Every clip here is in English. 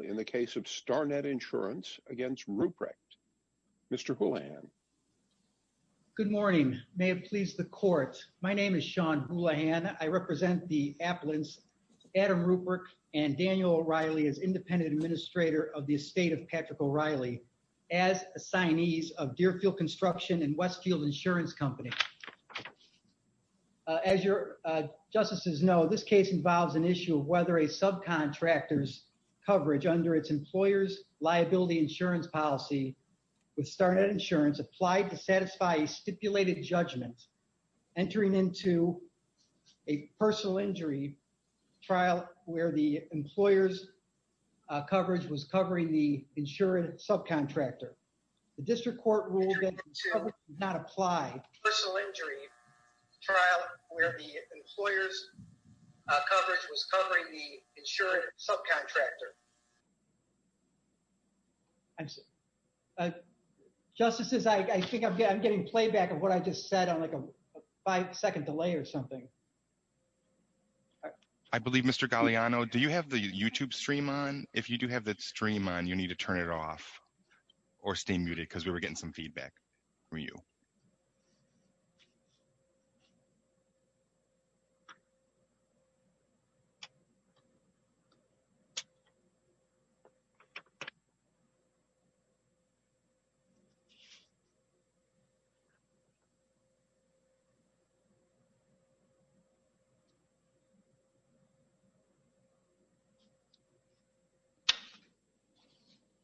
in the case of StarNet Insurance against Ruprecht. Mr. Houlihan. Good morning. May it please the court. My name is Sean Houlihan. I represent the appellants Adam Ruprecht and Daniel O'Reilly as independent administrator of the estate of Patrick O'Reilly as assignees of Deerfield Construction and Westfield Insurance Company. As your justices know, this case involves an issue of whether a subcontractor's coverage under its employer's liability insurance policy with StarNet Insurance applied to satisfy a stipulated judgment entering into a personal injury trial where the employer's coverage was covering the insurance subcontractor. The district court ruled that insurance subcontractor. Justices, I think I'm getting playback of what I just said on like a five-second delay or something. I believe Mr. Galeano, do you have the YouTube stream on? If you do have that stream on, you need to turn it off or stay muted because we were getting some questions.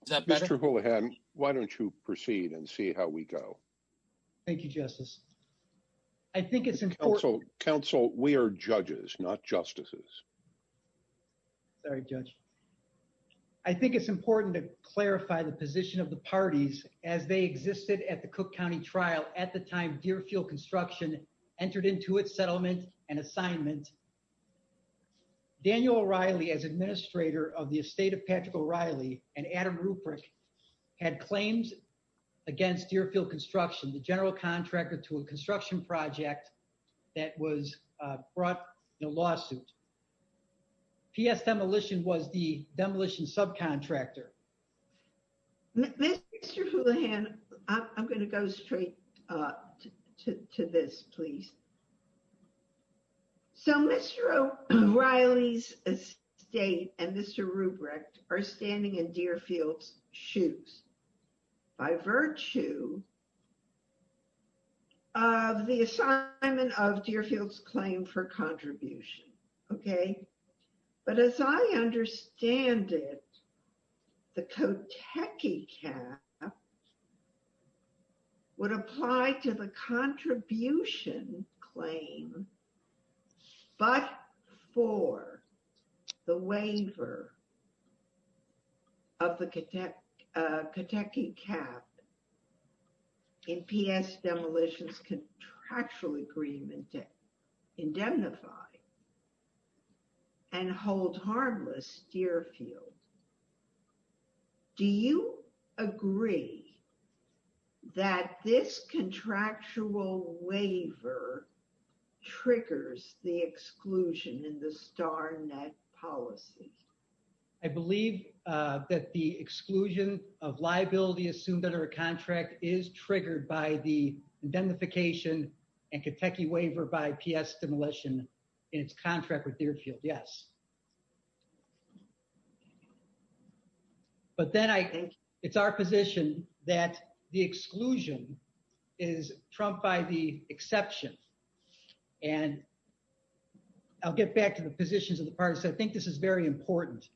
Is that better? Mr. Houlihan, why don't you proceed and see how we go? Thank you, Justice. I think it's important. Counsel, we are judges, not justices. Sorry, Judge. I think it's important to clarify the position of the parties as they existed at the Cook County trial at the time Deerfield Construction entered into its settlement and assignment. Daniel O'Reilly as administrator of the estate of Patrick O'Reilly and Adam Ruprich had claims against Deerfield Construction, the general contractor to a construction project that was brought in a lawsuit. P.S. Demolition was the demolition subcontractor. Mr. Houlihan, I'm going to go straight to this, please. So Mr. O'Reilly's estate and Mr. Ruprich are standing in Deerfield's shoes by virtue of the assignment of Deerfield's claim for contribution. Okay. But as I understand it, the Kotechi cap would apply to the contribution claim but for the waiver of the Kotechi cap in P.S. Demolition's contractual agreement to indemnify and hold harmless Deerfield. Do you agree that this contractual waiver triggers the exclusion in the star net policy? I believe that the exclusion of liability assumed under a contract is triggered by the indemnification and Kotechi waiver by P.S. Demolition in its contract with Deerfield, yes. But then I think it's our position that the exclusion is trumped by the exception. And I'll get back to the positions of the parties. I think this is very important.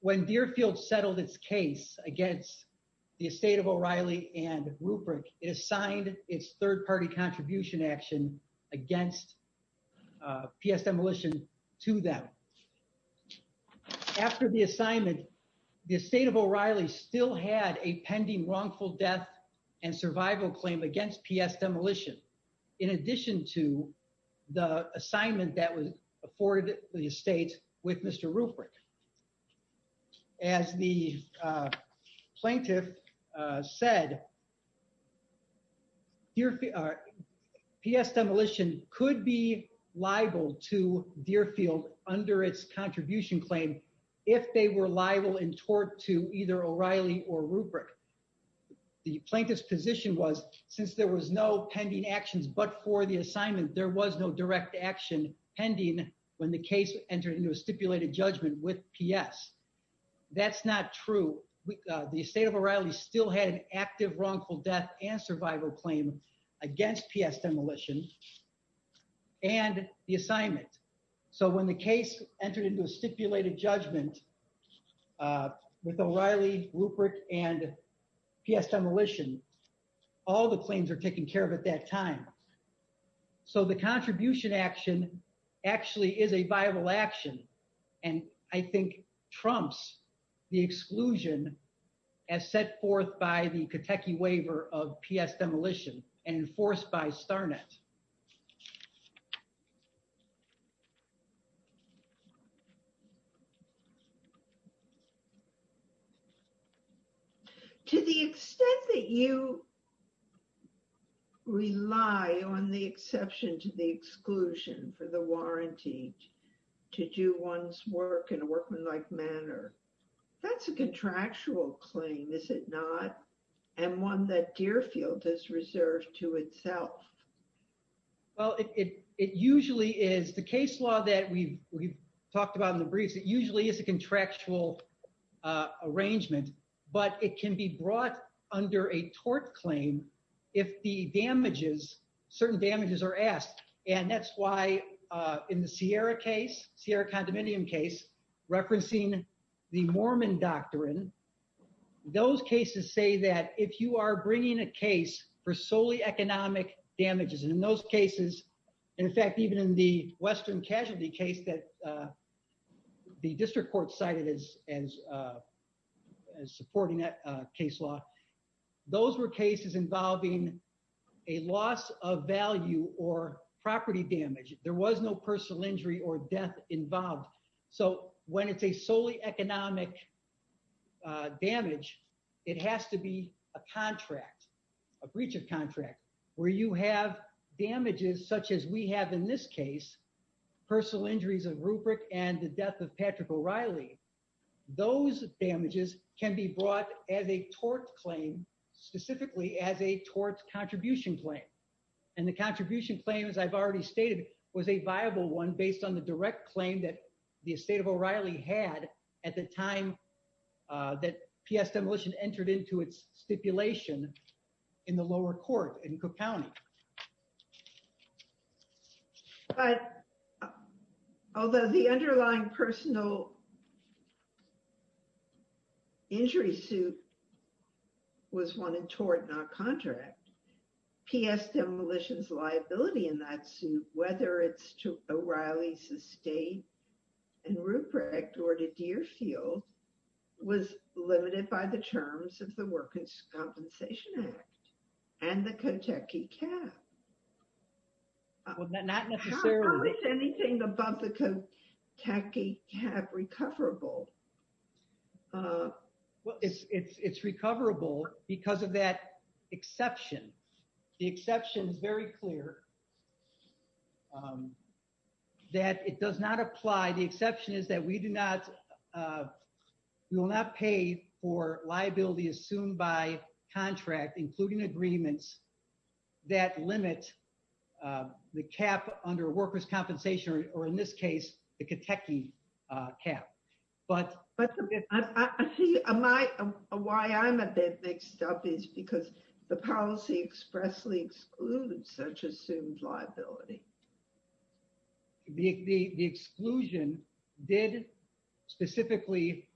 When Deerfield settled its case against the estate of O'Reilly and Ruprich, it assigned its third-party contribution action against P.S. Demolition to them. After the assignment, the estate of O'Reilly still had a pending wrongful death and survival claim against P.S. Demolition in addition to the assignment that was afforded the estate with Mr. Ruprich. As the plaintiff said, P.S. Demolition could be liable to Deerfield under its contribution claim if they were liable in tort to either O'Reilly or Ruprich. The plaintiff's position was since there was no pending actions but for the assignment, there was no direct action pending when the case entered into a stipulated judgment with P.S. That's not true. The estate of O'Reilly still had an active wrongful death and survival claim against P.S. Demolition and the assignment. So when the case entered into a stipulated judgment with O'Reilly, Ruprich, and P.S. Demolition, all the claims are taken care of at that time. So the contribution action actually is a viable action and I think trumps the exclusion as set forth by the Catechi waiver of P.S. Demolition and enforced by Starnet. To the extent that you rely on the exception to the exclusion for the warranty to do one's work in a workmanlike manner, that's a contractual claim, is it not? And one that Deerfield has reserved to itself. Well, it usually is. The case law that we've talked about in the briefs, it usually is a contractual arrangement, but it can be brought under a tort claim if the damages, certain damages are asked. And that's why in the Sierra case, Sierra referencing the Mormon doctrine, those cases say that if you are bringing a case for solely economic damages, and in those cases, in fact, even in the Western casualty case that the district court cited as supporting that case law, those were cases involving a loss of value or property damage. There was no personal injury or death involved. So it's a solely economic damage, it has to be a contract, a breach of contract, where you have damages such as we have in this case, personal injuries of Rupert and the death of Patrick O'Reilly. Those damages can be brought as a tort claim, specifically as a tort contribution claim. And the contribution claim, as I've already stated, was a viable one based on the direct claim that the estate of O'Reilly had at the time that P.S. Demolition entered into its stipulation in the lower court in Cook County. But although the underlying personal injury suit was one in tort, not contract, P.S. Demolition's liability in that suit, whether it's to O'Reilly's estate in Rupert or to Deerfield, was limited by the terms of the Workers' Compensation Act and the Kentucky CAP. Not necessarily. How is anything above the Kentucky CAP recoverable? Well, it's recoverable because of that exception. The exception is very clear. That it does not apply. The exception is that we do not, we will not pay for liability assumed by contract, including agreements that limit the cap under workers' compensation, or in this case, the Kentucky CAP. But I see why I'm a bit mixed up is because the policy expressly excludes such assumed liability. The exclusion did specifically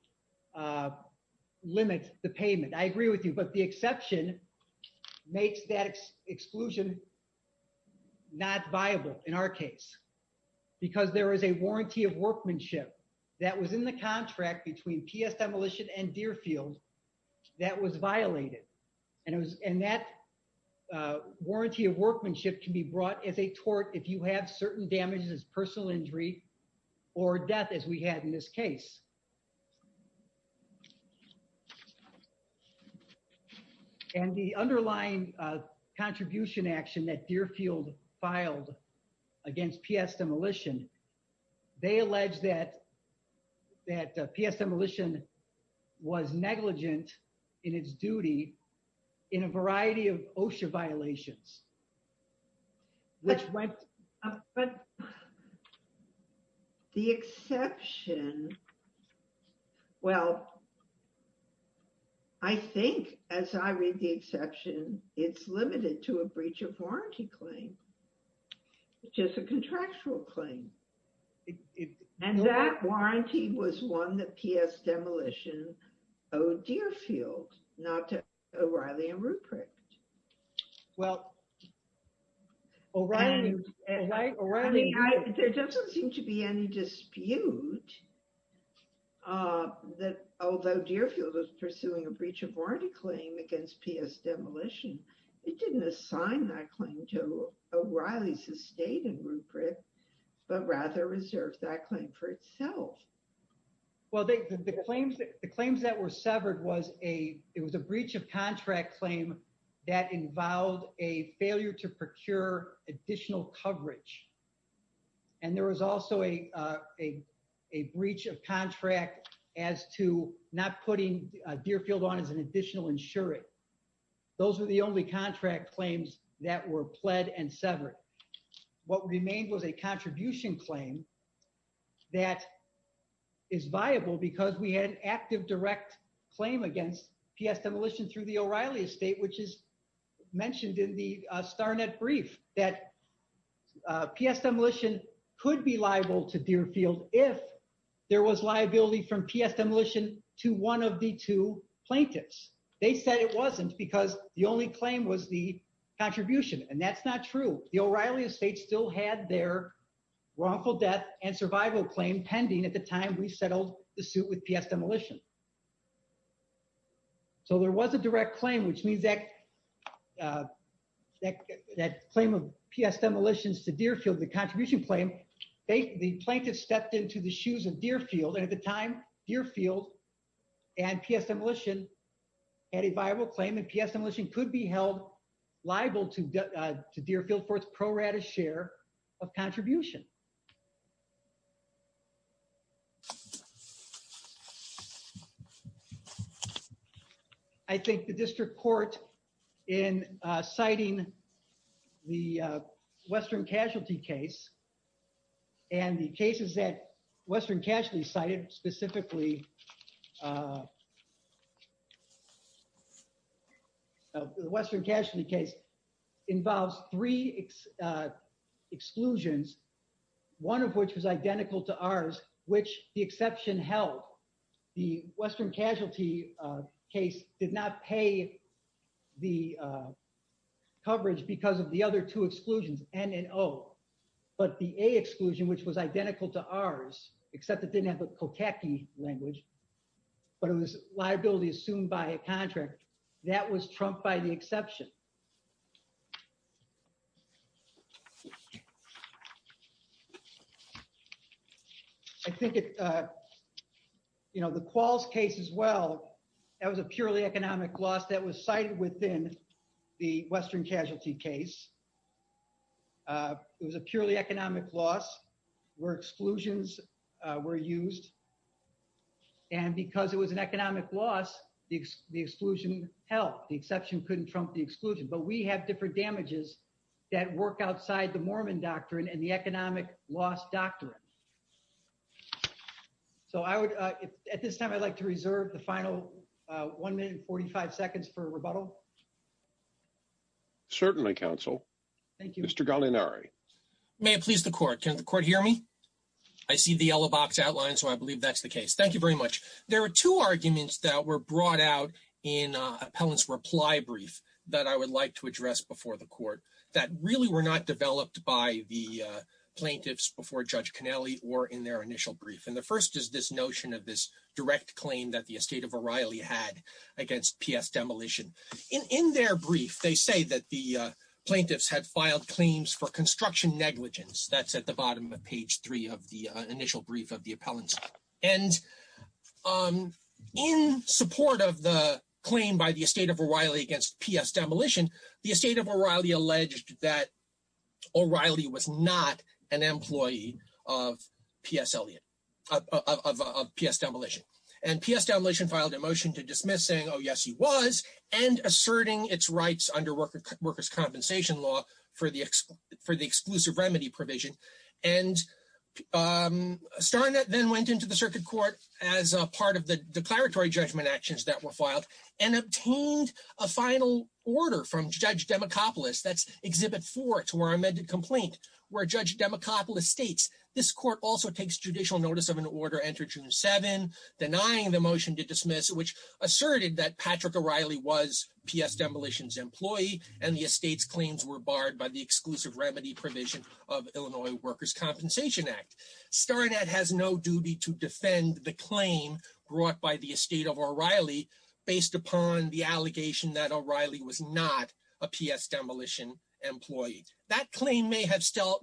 limit the payment. I agree with you, but the exception makes that exclusion not viable in our case because there is a warranty of workmanship that was in the contract between P.S. Demolition and Deerfield that was violated. And that warranty of workmanship can be brought as a tort if you have certain damages as personal injury or death as we had in this case. And the underlying contribution action that Deerfield filed against P.S. Demolition, they alleged that P.S. Demolition was negligent in its duty in a variety of OSHA violations. But the exception, well, I think as I read the exception, it's limited to a breach of warranty claim. And that warranty was one that P.S. Demolition owed Deerfield, not O'Reilly and Ruprecht. There doesn't seem to be any dispute that although Deerfield was pursuing a breach of warranty claim against P.S. Demolition, it didn't assign that claim to O'Reilly's estate and Ruprecht, but rather reserved that claim for itself. Well, the claims that were severed, it was a breach of contract claim that involved a failure to procure additional coverage. And there was also a breach of contract as to not putting Deerfield on as an a contribution claim that is viable because we had an active direct claim against P.S. Demolition through the O'Reilly estate, which is mentioned in the Starnet brief that P.S. Demolition could be liable to Deerfield if there was liability from P.S. Demolition to one of the two plaintiffs. They said it wasn't because the only claim was the contribution. And that's not true. The O'Reilly estate still had their wrongful death and survival claim pending at the time we settled the suit with P.S. Demolition. So there was a direct claim, which means that that claim of P.S. Demolitions to Deerfield, the contribution claim, the plaintiff stepped into the shoes of Deerfield and at the time Deerfield and P.S. Demolition had a viable claim and P.S. Demolition could be held liable to Deerfield for its prorated share of contribution. I think the district court in citing the Western Casualty case and the cases that Western Casualty cited specifically, the Western Casualty case involves three exclusions, one of which was identical to ours, which the exception held. The Western Casualty case did not pay the coverage because of the other two exclusions, N and O. But the A exclusion, which was identical to ours, except it didn't have the Kotacki language, but it was liability assumed by a contract, that was trumped by the exception. I think the Qualls case as well, that was a purely economic loss that was cited within the Western Casualty case. It was a purely economic loss where exclusions were used. And because it was an economic loss, the exclusion held. The exception couldn't trump the exclusion. But we have different damages that work outside the Mormon doctrine and the economic loss doctrine. At this time, I'd like to reserve the final one minute and 45 seconds for rebuttal. Certainly, counsel. Thank you. Mr. Gallinari. May it please the court. Can the court hear me? I see the yellow box outline, so I believe that's the case. Thank you very much. There are two arguments that were brought out in appellant's reply brief that I would like to address before the court that really were not developed by the plaintiffs before Judge Connelly or in their initial brief. And the first is this notion of direct claim that the estate of O'Reilly had against P.S. Demolition. In their brief, they say that the plaintiffs had filed claims for construction negligence. That's at the bottom of page three of the initial brief of the appellant's. And in support of the claim by the estate of O'Reilly against P.S. Demolition, the estate of O'Reilly alleged that O'Reilly was not an employee of P.S. Demolition. And P.S. Demolition filed a motion to dismiss saying, oh, yes, he was, and asserting its rights under workers' compensation law for the exclusive remedy provision. And Starnett then went into the circuit court as part of the declaratory judgment actions that were filed and obtained a final order from Judge Demacopoulos, that's exhibit four to our amended complaint, where Judge Demacopoulos states, this court also takes judicial notice of an order entered June 7, denying the motion to dismiss, which asserted that Patrick O'Reilly was P.S. Demolition's employee and the estate's claims were barred by the exclusive remedy provision of Illinois Workers' Compensation Act. Starnett has no duty to defend the claim brought by the estate of O'Reilly based upon the allegation that O'Reilly was not a P.S. Demolition employee. That claim may have still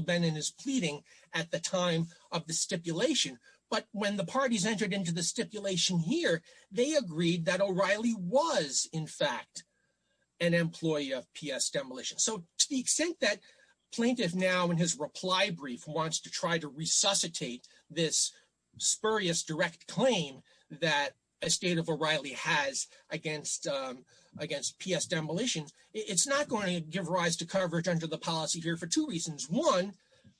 been in his pleading at the time of the stipulation, but when the parties entered into the stipulation here, they agreed that O'Reilly was, in fact, an employee of P.S. Demolition. So to the extent that plaintiff now in his reply brief wants to try to resuscitate this spurious direct claim that estate of O'Reilly has against P.S. Demolition, it's not going to give rise to coverage under the policy here for two reasons. One,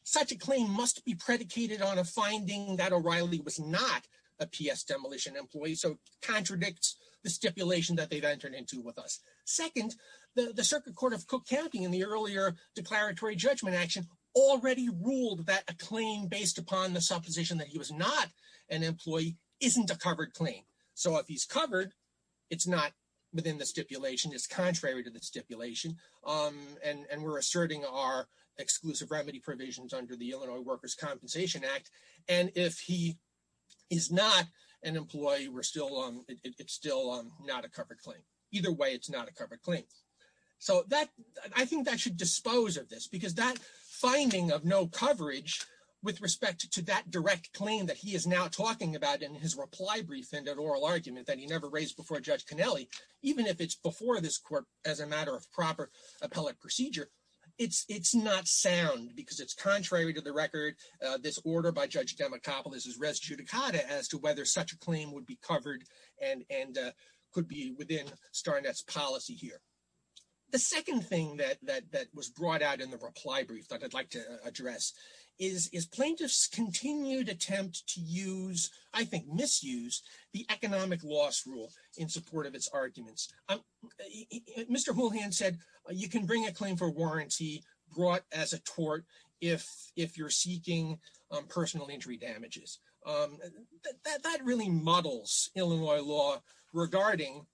such a claim must be predicated on a finding that O'Reilly was not a P.S. Demolition employee, so contradicts the stipulation that they've entered into with us. Second, the Circuit Court of Cook County in the earlier declaratory judgment action already ruled that a claim based upon the supposition that he was not an employee isn't a covered claim. So if he's covered, it's not stipulated under the stipulation, and we're asserting our exclusive remedy provisions under the Illinois Workers' Compensation Act. And if he is not an employee, it's still not a covered claim. Either way, it's not a covered claim. So I think that should dispose of this, because that finding of no coverage with respect to that direct claim that he is now talking about in his reply brief and in oral argument that he never raised before Judge Connelly, even if it's before this as a matter of proper appellate procedure, it's not sound, because it's contrary to the record, this order by Judge Democopolis is res judicata as to whether such a claim would be covered and could be within Starnett's policy here. The second thing that was brought out in the reply brief that I'd like to address is plaintiffs' continued attempt to use, I think misuse, the economic loss rule in support of its arguments. Mr. Houlihan said you can bring a claim for warranty brought as a tort if you're seeking personal injury damages. That really muddles Illinois law regarding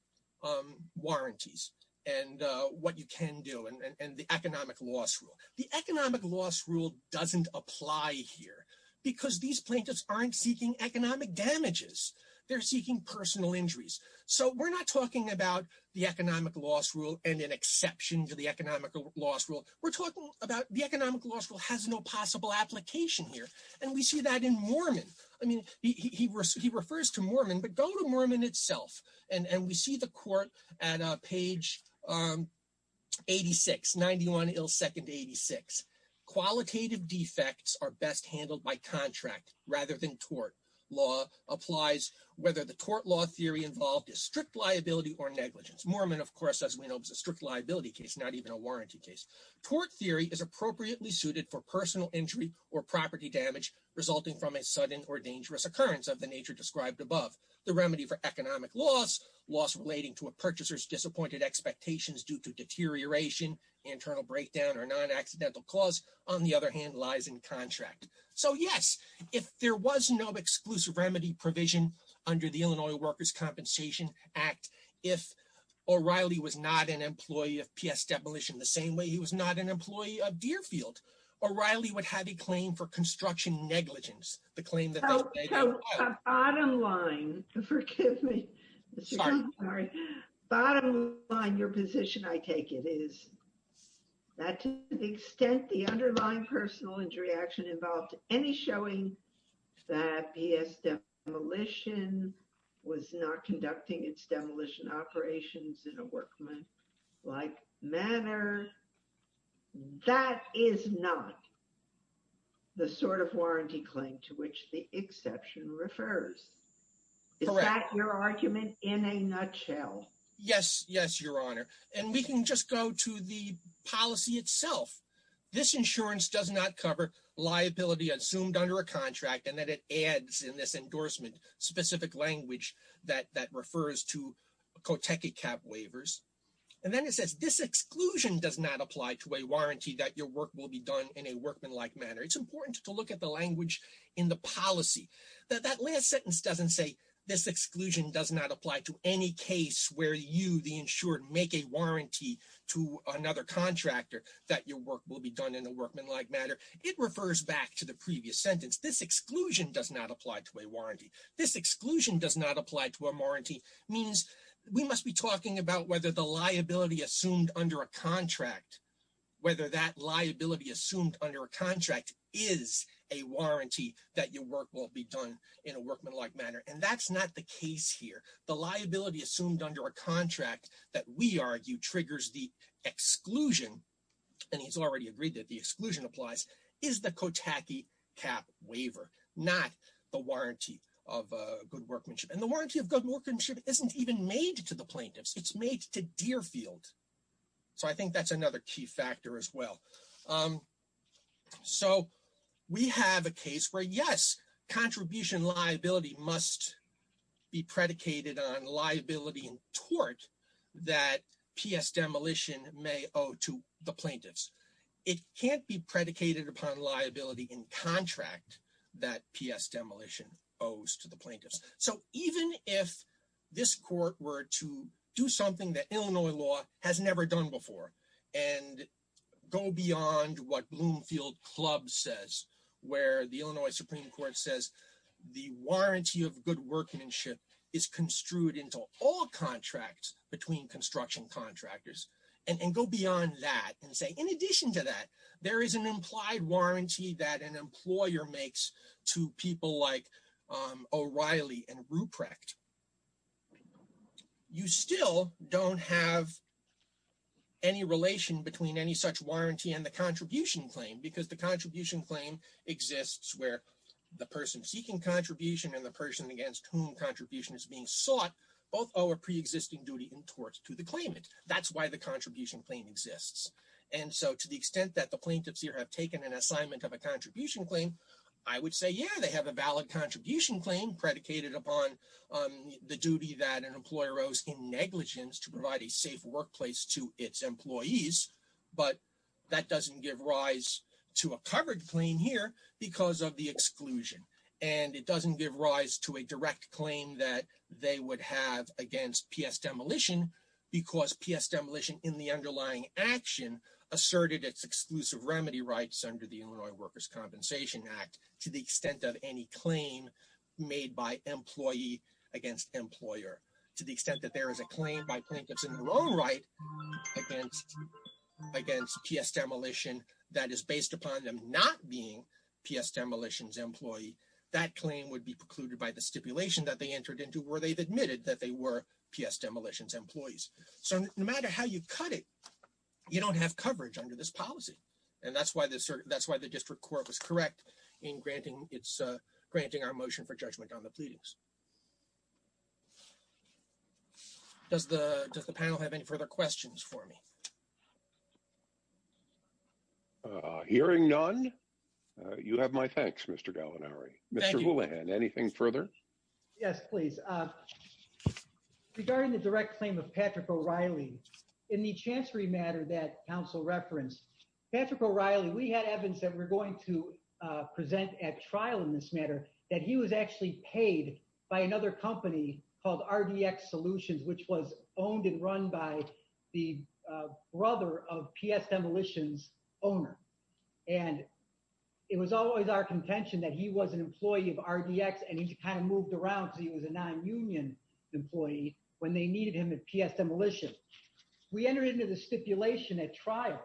warranties and what you can do and the economic loss rule. The economic loss rule doesn't apply here, because these plaintiffs aren't seeking economic damages. They're seeking personal injuries. So we're not talking about the economic loss rule and an exception to the economic loss rule. We're talking about the economic loss rule has no possible application here. And we see that in Mormon. I mean, he refers to Mormon, but go to Mormon itself. And we see the court at page 86, 91 ill second 86. Qualitative defects are best handled by contract rather than tort. Law applies whether the tort law theory involved is strict liability or negligence. Mormon, of course, as we know, is a strict liability case, not even a warranty case. Tort theory is appropriately suited for personal injury or property damage resulting from a sudden or dangerous occurrence of the nature described above. The remedy for economic loss, loss relating to a purchaser's disappointed expectations due to deterioration, internal breakdown, or non-accidental clause, on the other hand, lies in contract. So yes, if there was no exclusive remedy provision under the Illinois Workers' Compensation Act, if O'Reilly was not an employee of P.S. Demolition the same way he was not an employee of Deerfield, O'Reilly would have a claim for construction negligence, the claim that they did not. The bottom line, forgive me, bottom line, your position, I take it, is that to the extent the underlying personal injury action involved any showing that P.S. Demolition was not conducting its demolition operations in a workmanlike manner, that is not the sort of warranty claim to which the exception refers. Correct. Is that your argument in a nutshell? Yes, yes, Your Honor. And we can just go to the policy itself. This insurance does not cover liability assumed under a contract and that it adds in this endorsement specific language that refers to Kotecha cap waivers. And then it says this exclusion does not apply to a warranty that your work will be done in a workmanlike manner. It's important to look at the language in the policy that that last sentence doesn't say this exclusion does not apply to any case where you, the insured, make a warranty to another contractor that your work will be done in a workmanlike manner. It refers back to the previous sentence. This exclusion does not apply to a warranty. This exclusion does not apply to a warranty means we must be talking about whether the liability assumed under a contract is a warranty that your work will be done in a workmanlike manner. And that's not the case here. The liability assumed under a contract that we argue triggers the exclusion, and he's already agreed that the exclusion applies, is the Kotecha cap waiver, not the warranty of good workmanship. And the warranty of good workmanship isn't even made to the plaintiffs. It's made to Deerfield. So I think that's another key factor as well. So we have a case where, yes, contribution liability must be predicated on liability in tort that PS demolition may owe to the plaintiffs. It can't be predicated upon liability in contract that PS demolition owes to the plaintiffs. So even if this court were to do something that Bloomfield Club says, where the Illinois Supreme Court says the warranty of good workmanship is construed into all contracts between construction contractors, and go beyond that and say, in addition to that, there is an implied warranty that an employer makes to people like O'Reilly and Ruprecht, you still don't have any relation between any such warranty and the contribution claim, because the contribution claim exists where the person seeking contribution and the person against whom contribution is being sought, both owe a pre-existing duty in torts to the claimant. That's why the contribution claim exists. And so to the extent that the plaintiffs here have taken an assignment of a contribution claim, I would say, yeah, they have a valid contribution claim predicated upon the duty that an employer owes in negligence to the plaintiffs. That doesn't give rise to a covered claim here because of the exclusion. And it doesn't give rise to a direct claim that they would have against PS demolition, because PS demolition in the underlying action asserted its exclusive remedy rights under the Illinois Workers' Compensation Act, to the extent of any claim made by employee against employer, to the extent that there is a claim by plaintiffs in their own right against PS demolition that is based upon them not being PS demolitions employee, that claim would be precluded by the stipulation that they entered into where they've admitted that they were PS demolitions employees. So no matter how you cut it, you don't have coverage under this policy. And that's why the district court was correct in granting our motion for judgment on the pleadings. Does the does the panel have any further questions for me? Hearing none, you have my thanks, Mr. Gallinari. Mr. Houlihan, anything further? Yes, please. Regarding the direct claim of Patrick O'Reilly, in the chancery matter that council referenced, Patrick O'Reilly, we had evidence that we're going to present at trial in this matter, that he was actually paid by another company called RDX Solutions, which was owned and run by the brother of PS demolitions owner. And it was always our contention that he was an employee of RDX and he kind of moved around so he was a non-union employee when they needed him at PS demolition. We entered into the stipulation at trial,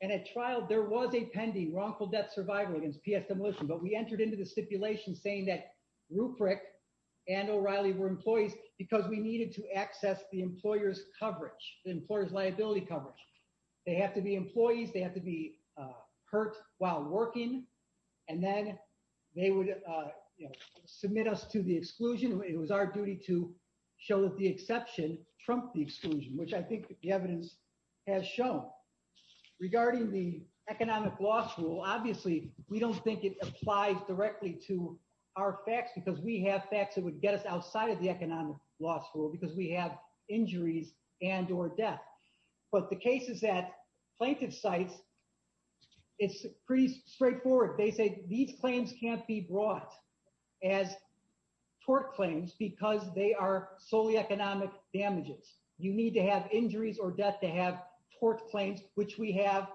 and at trial there was a pending wrongful death survival against PS demolition, but we and O'Reilly were employees because we needed to access the employer's coverage, the employer's liability coverage. They have to be employees, they have to be hurt while working, and then they would submit us to the exclusion. It was our duty to show that the exception trumped the exclusion, which I think the evidence has shown. Regarding the economic loss rule, obviously we don't think it applies directly to our facts because we have facts that would get us outside of the economic loss rule because we have injuries and or death. But the cases that plaintiffs cite, it's pretty straightforward. They say these claims can't be brought as tort claims because they are solely economic damages. You need to have injuries or death to have tort claims, which we have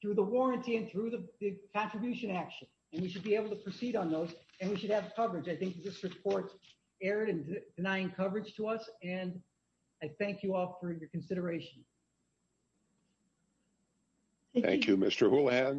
through the warranty and through the contribution action, and we should be able to proceed on those and we should have coverage. I think this report erred in denying coverage to us, and I thank you all for your consideration. Thank you, Mr. Houlihan.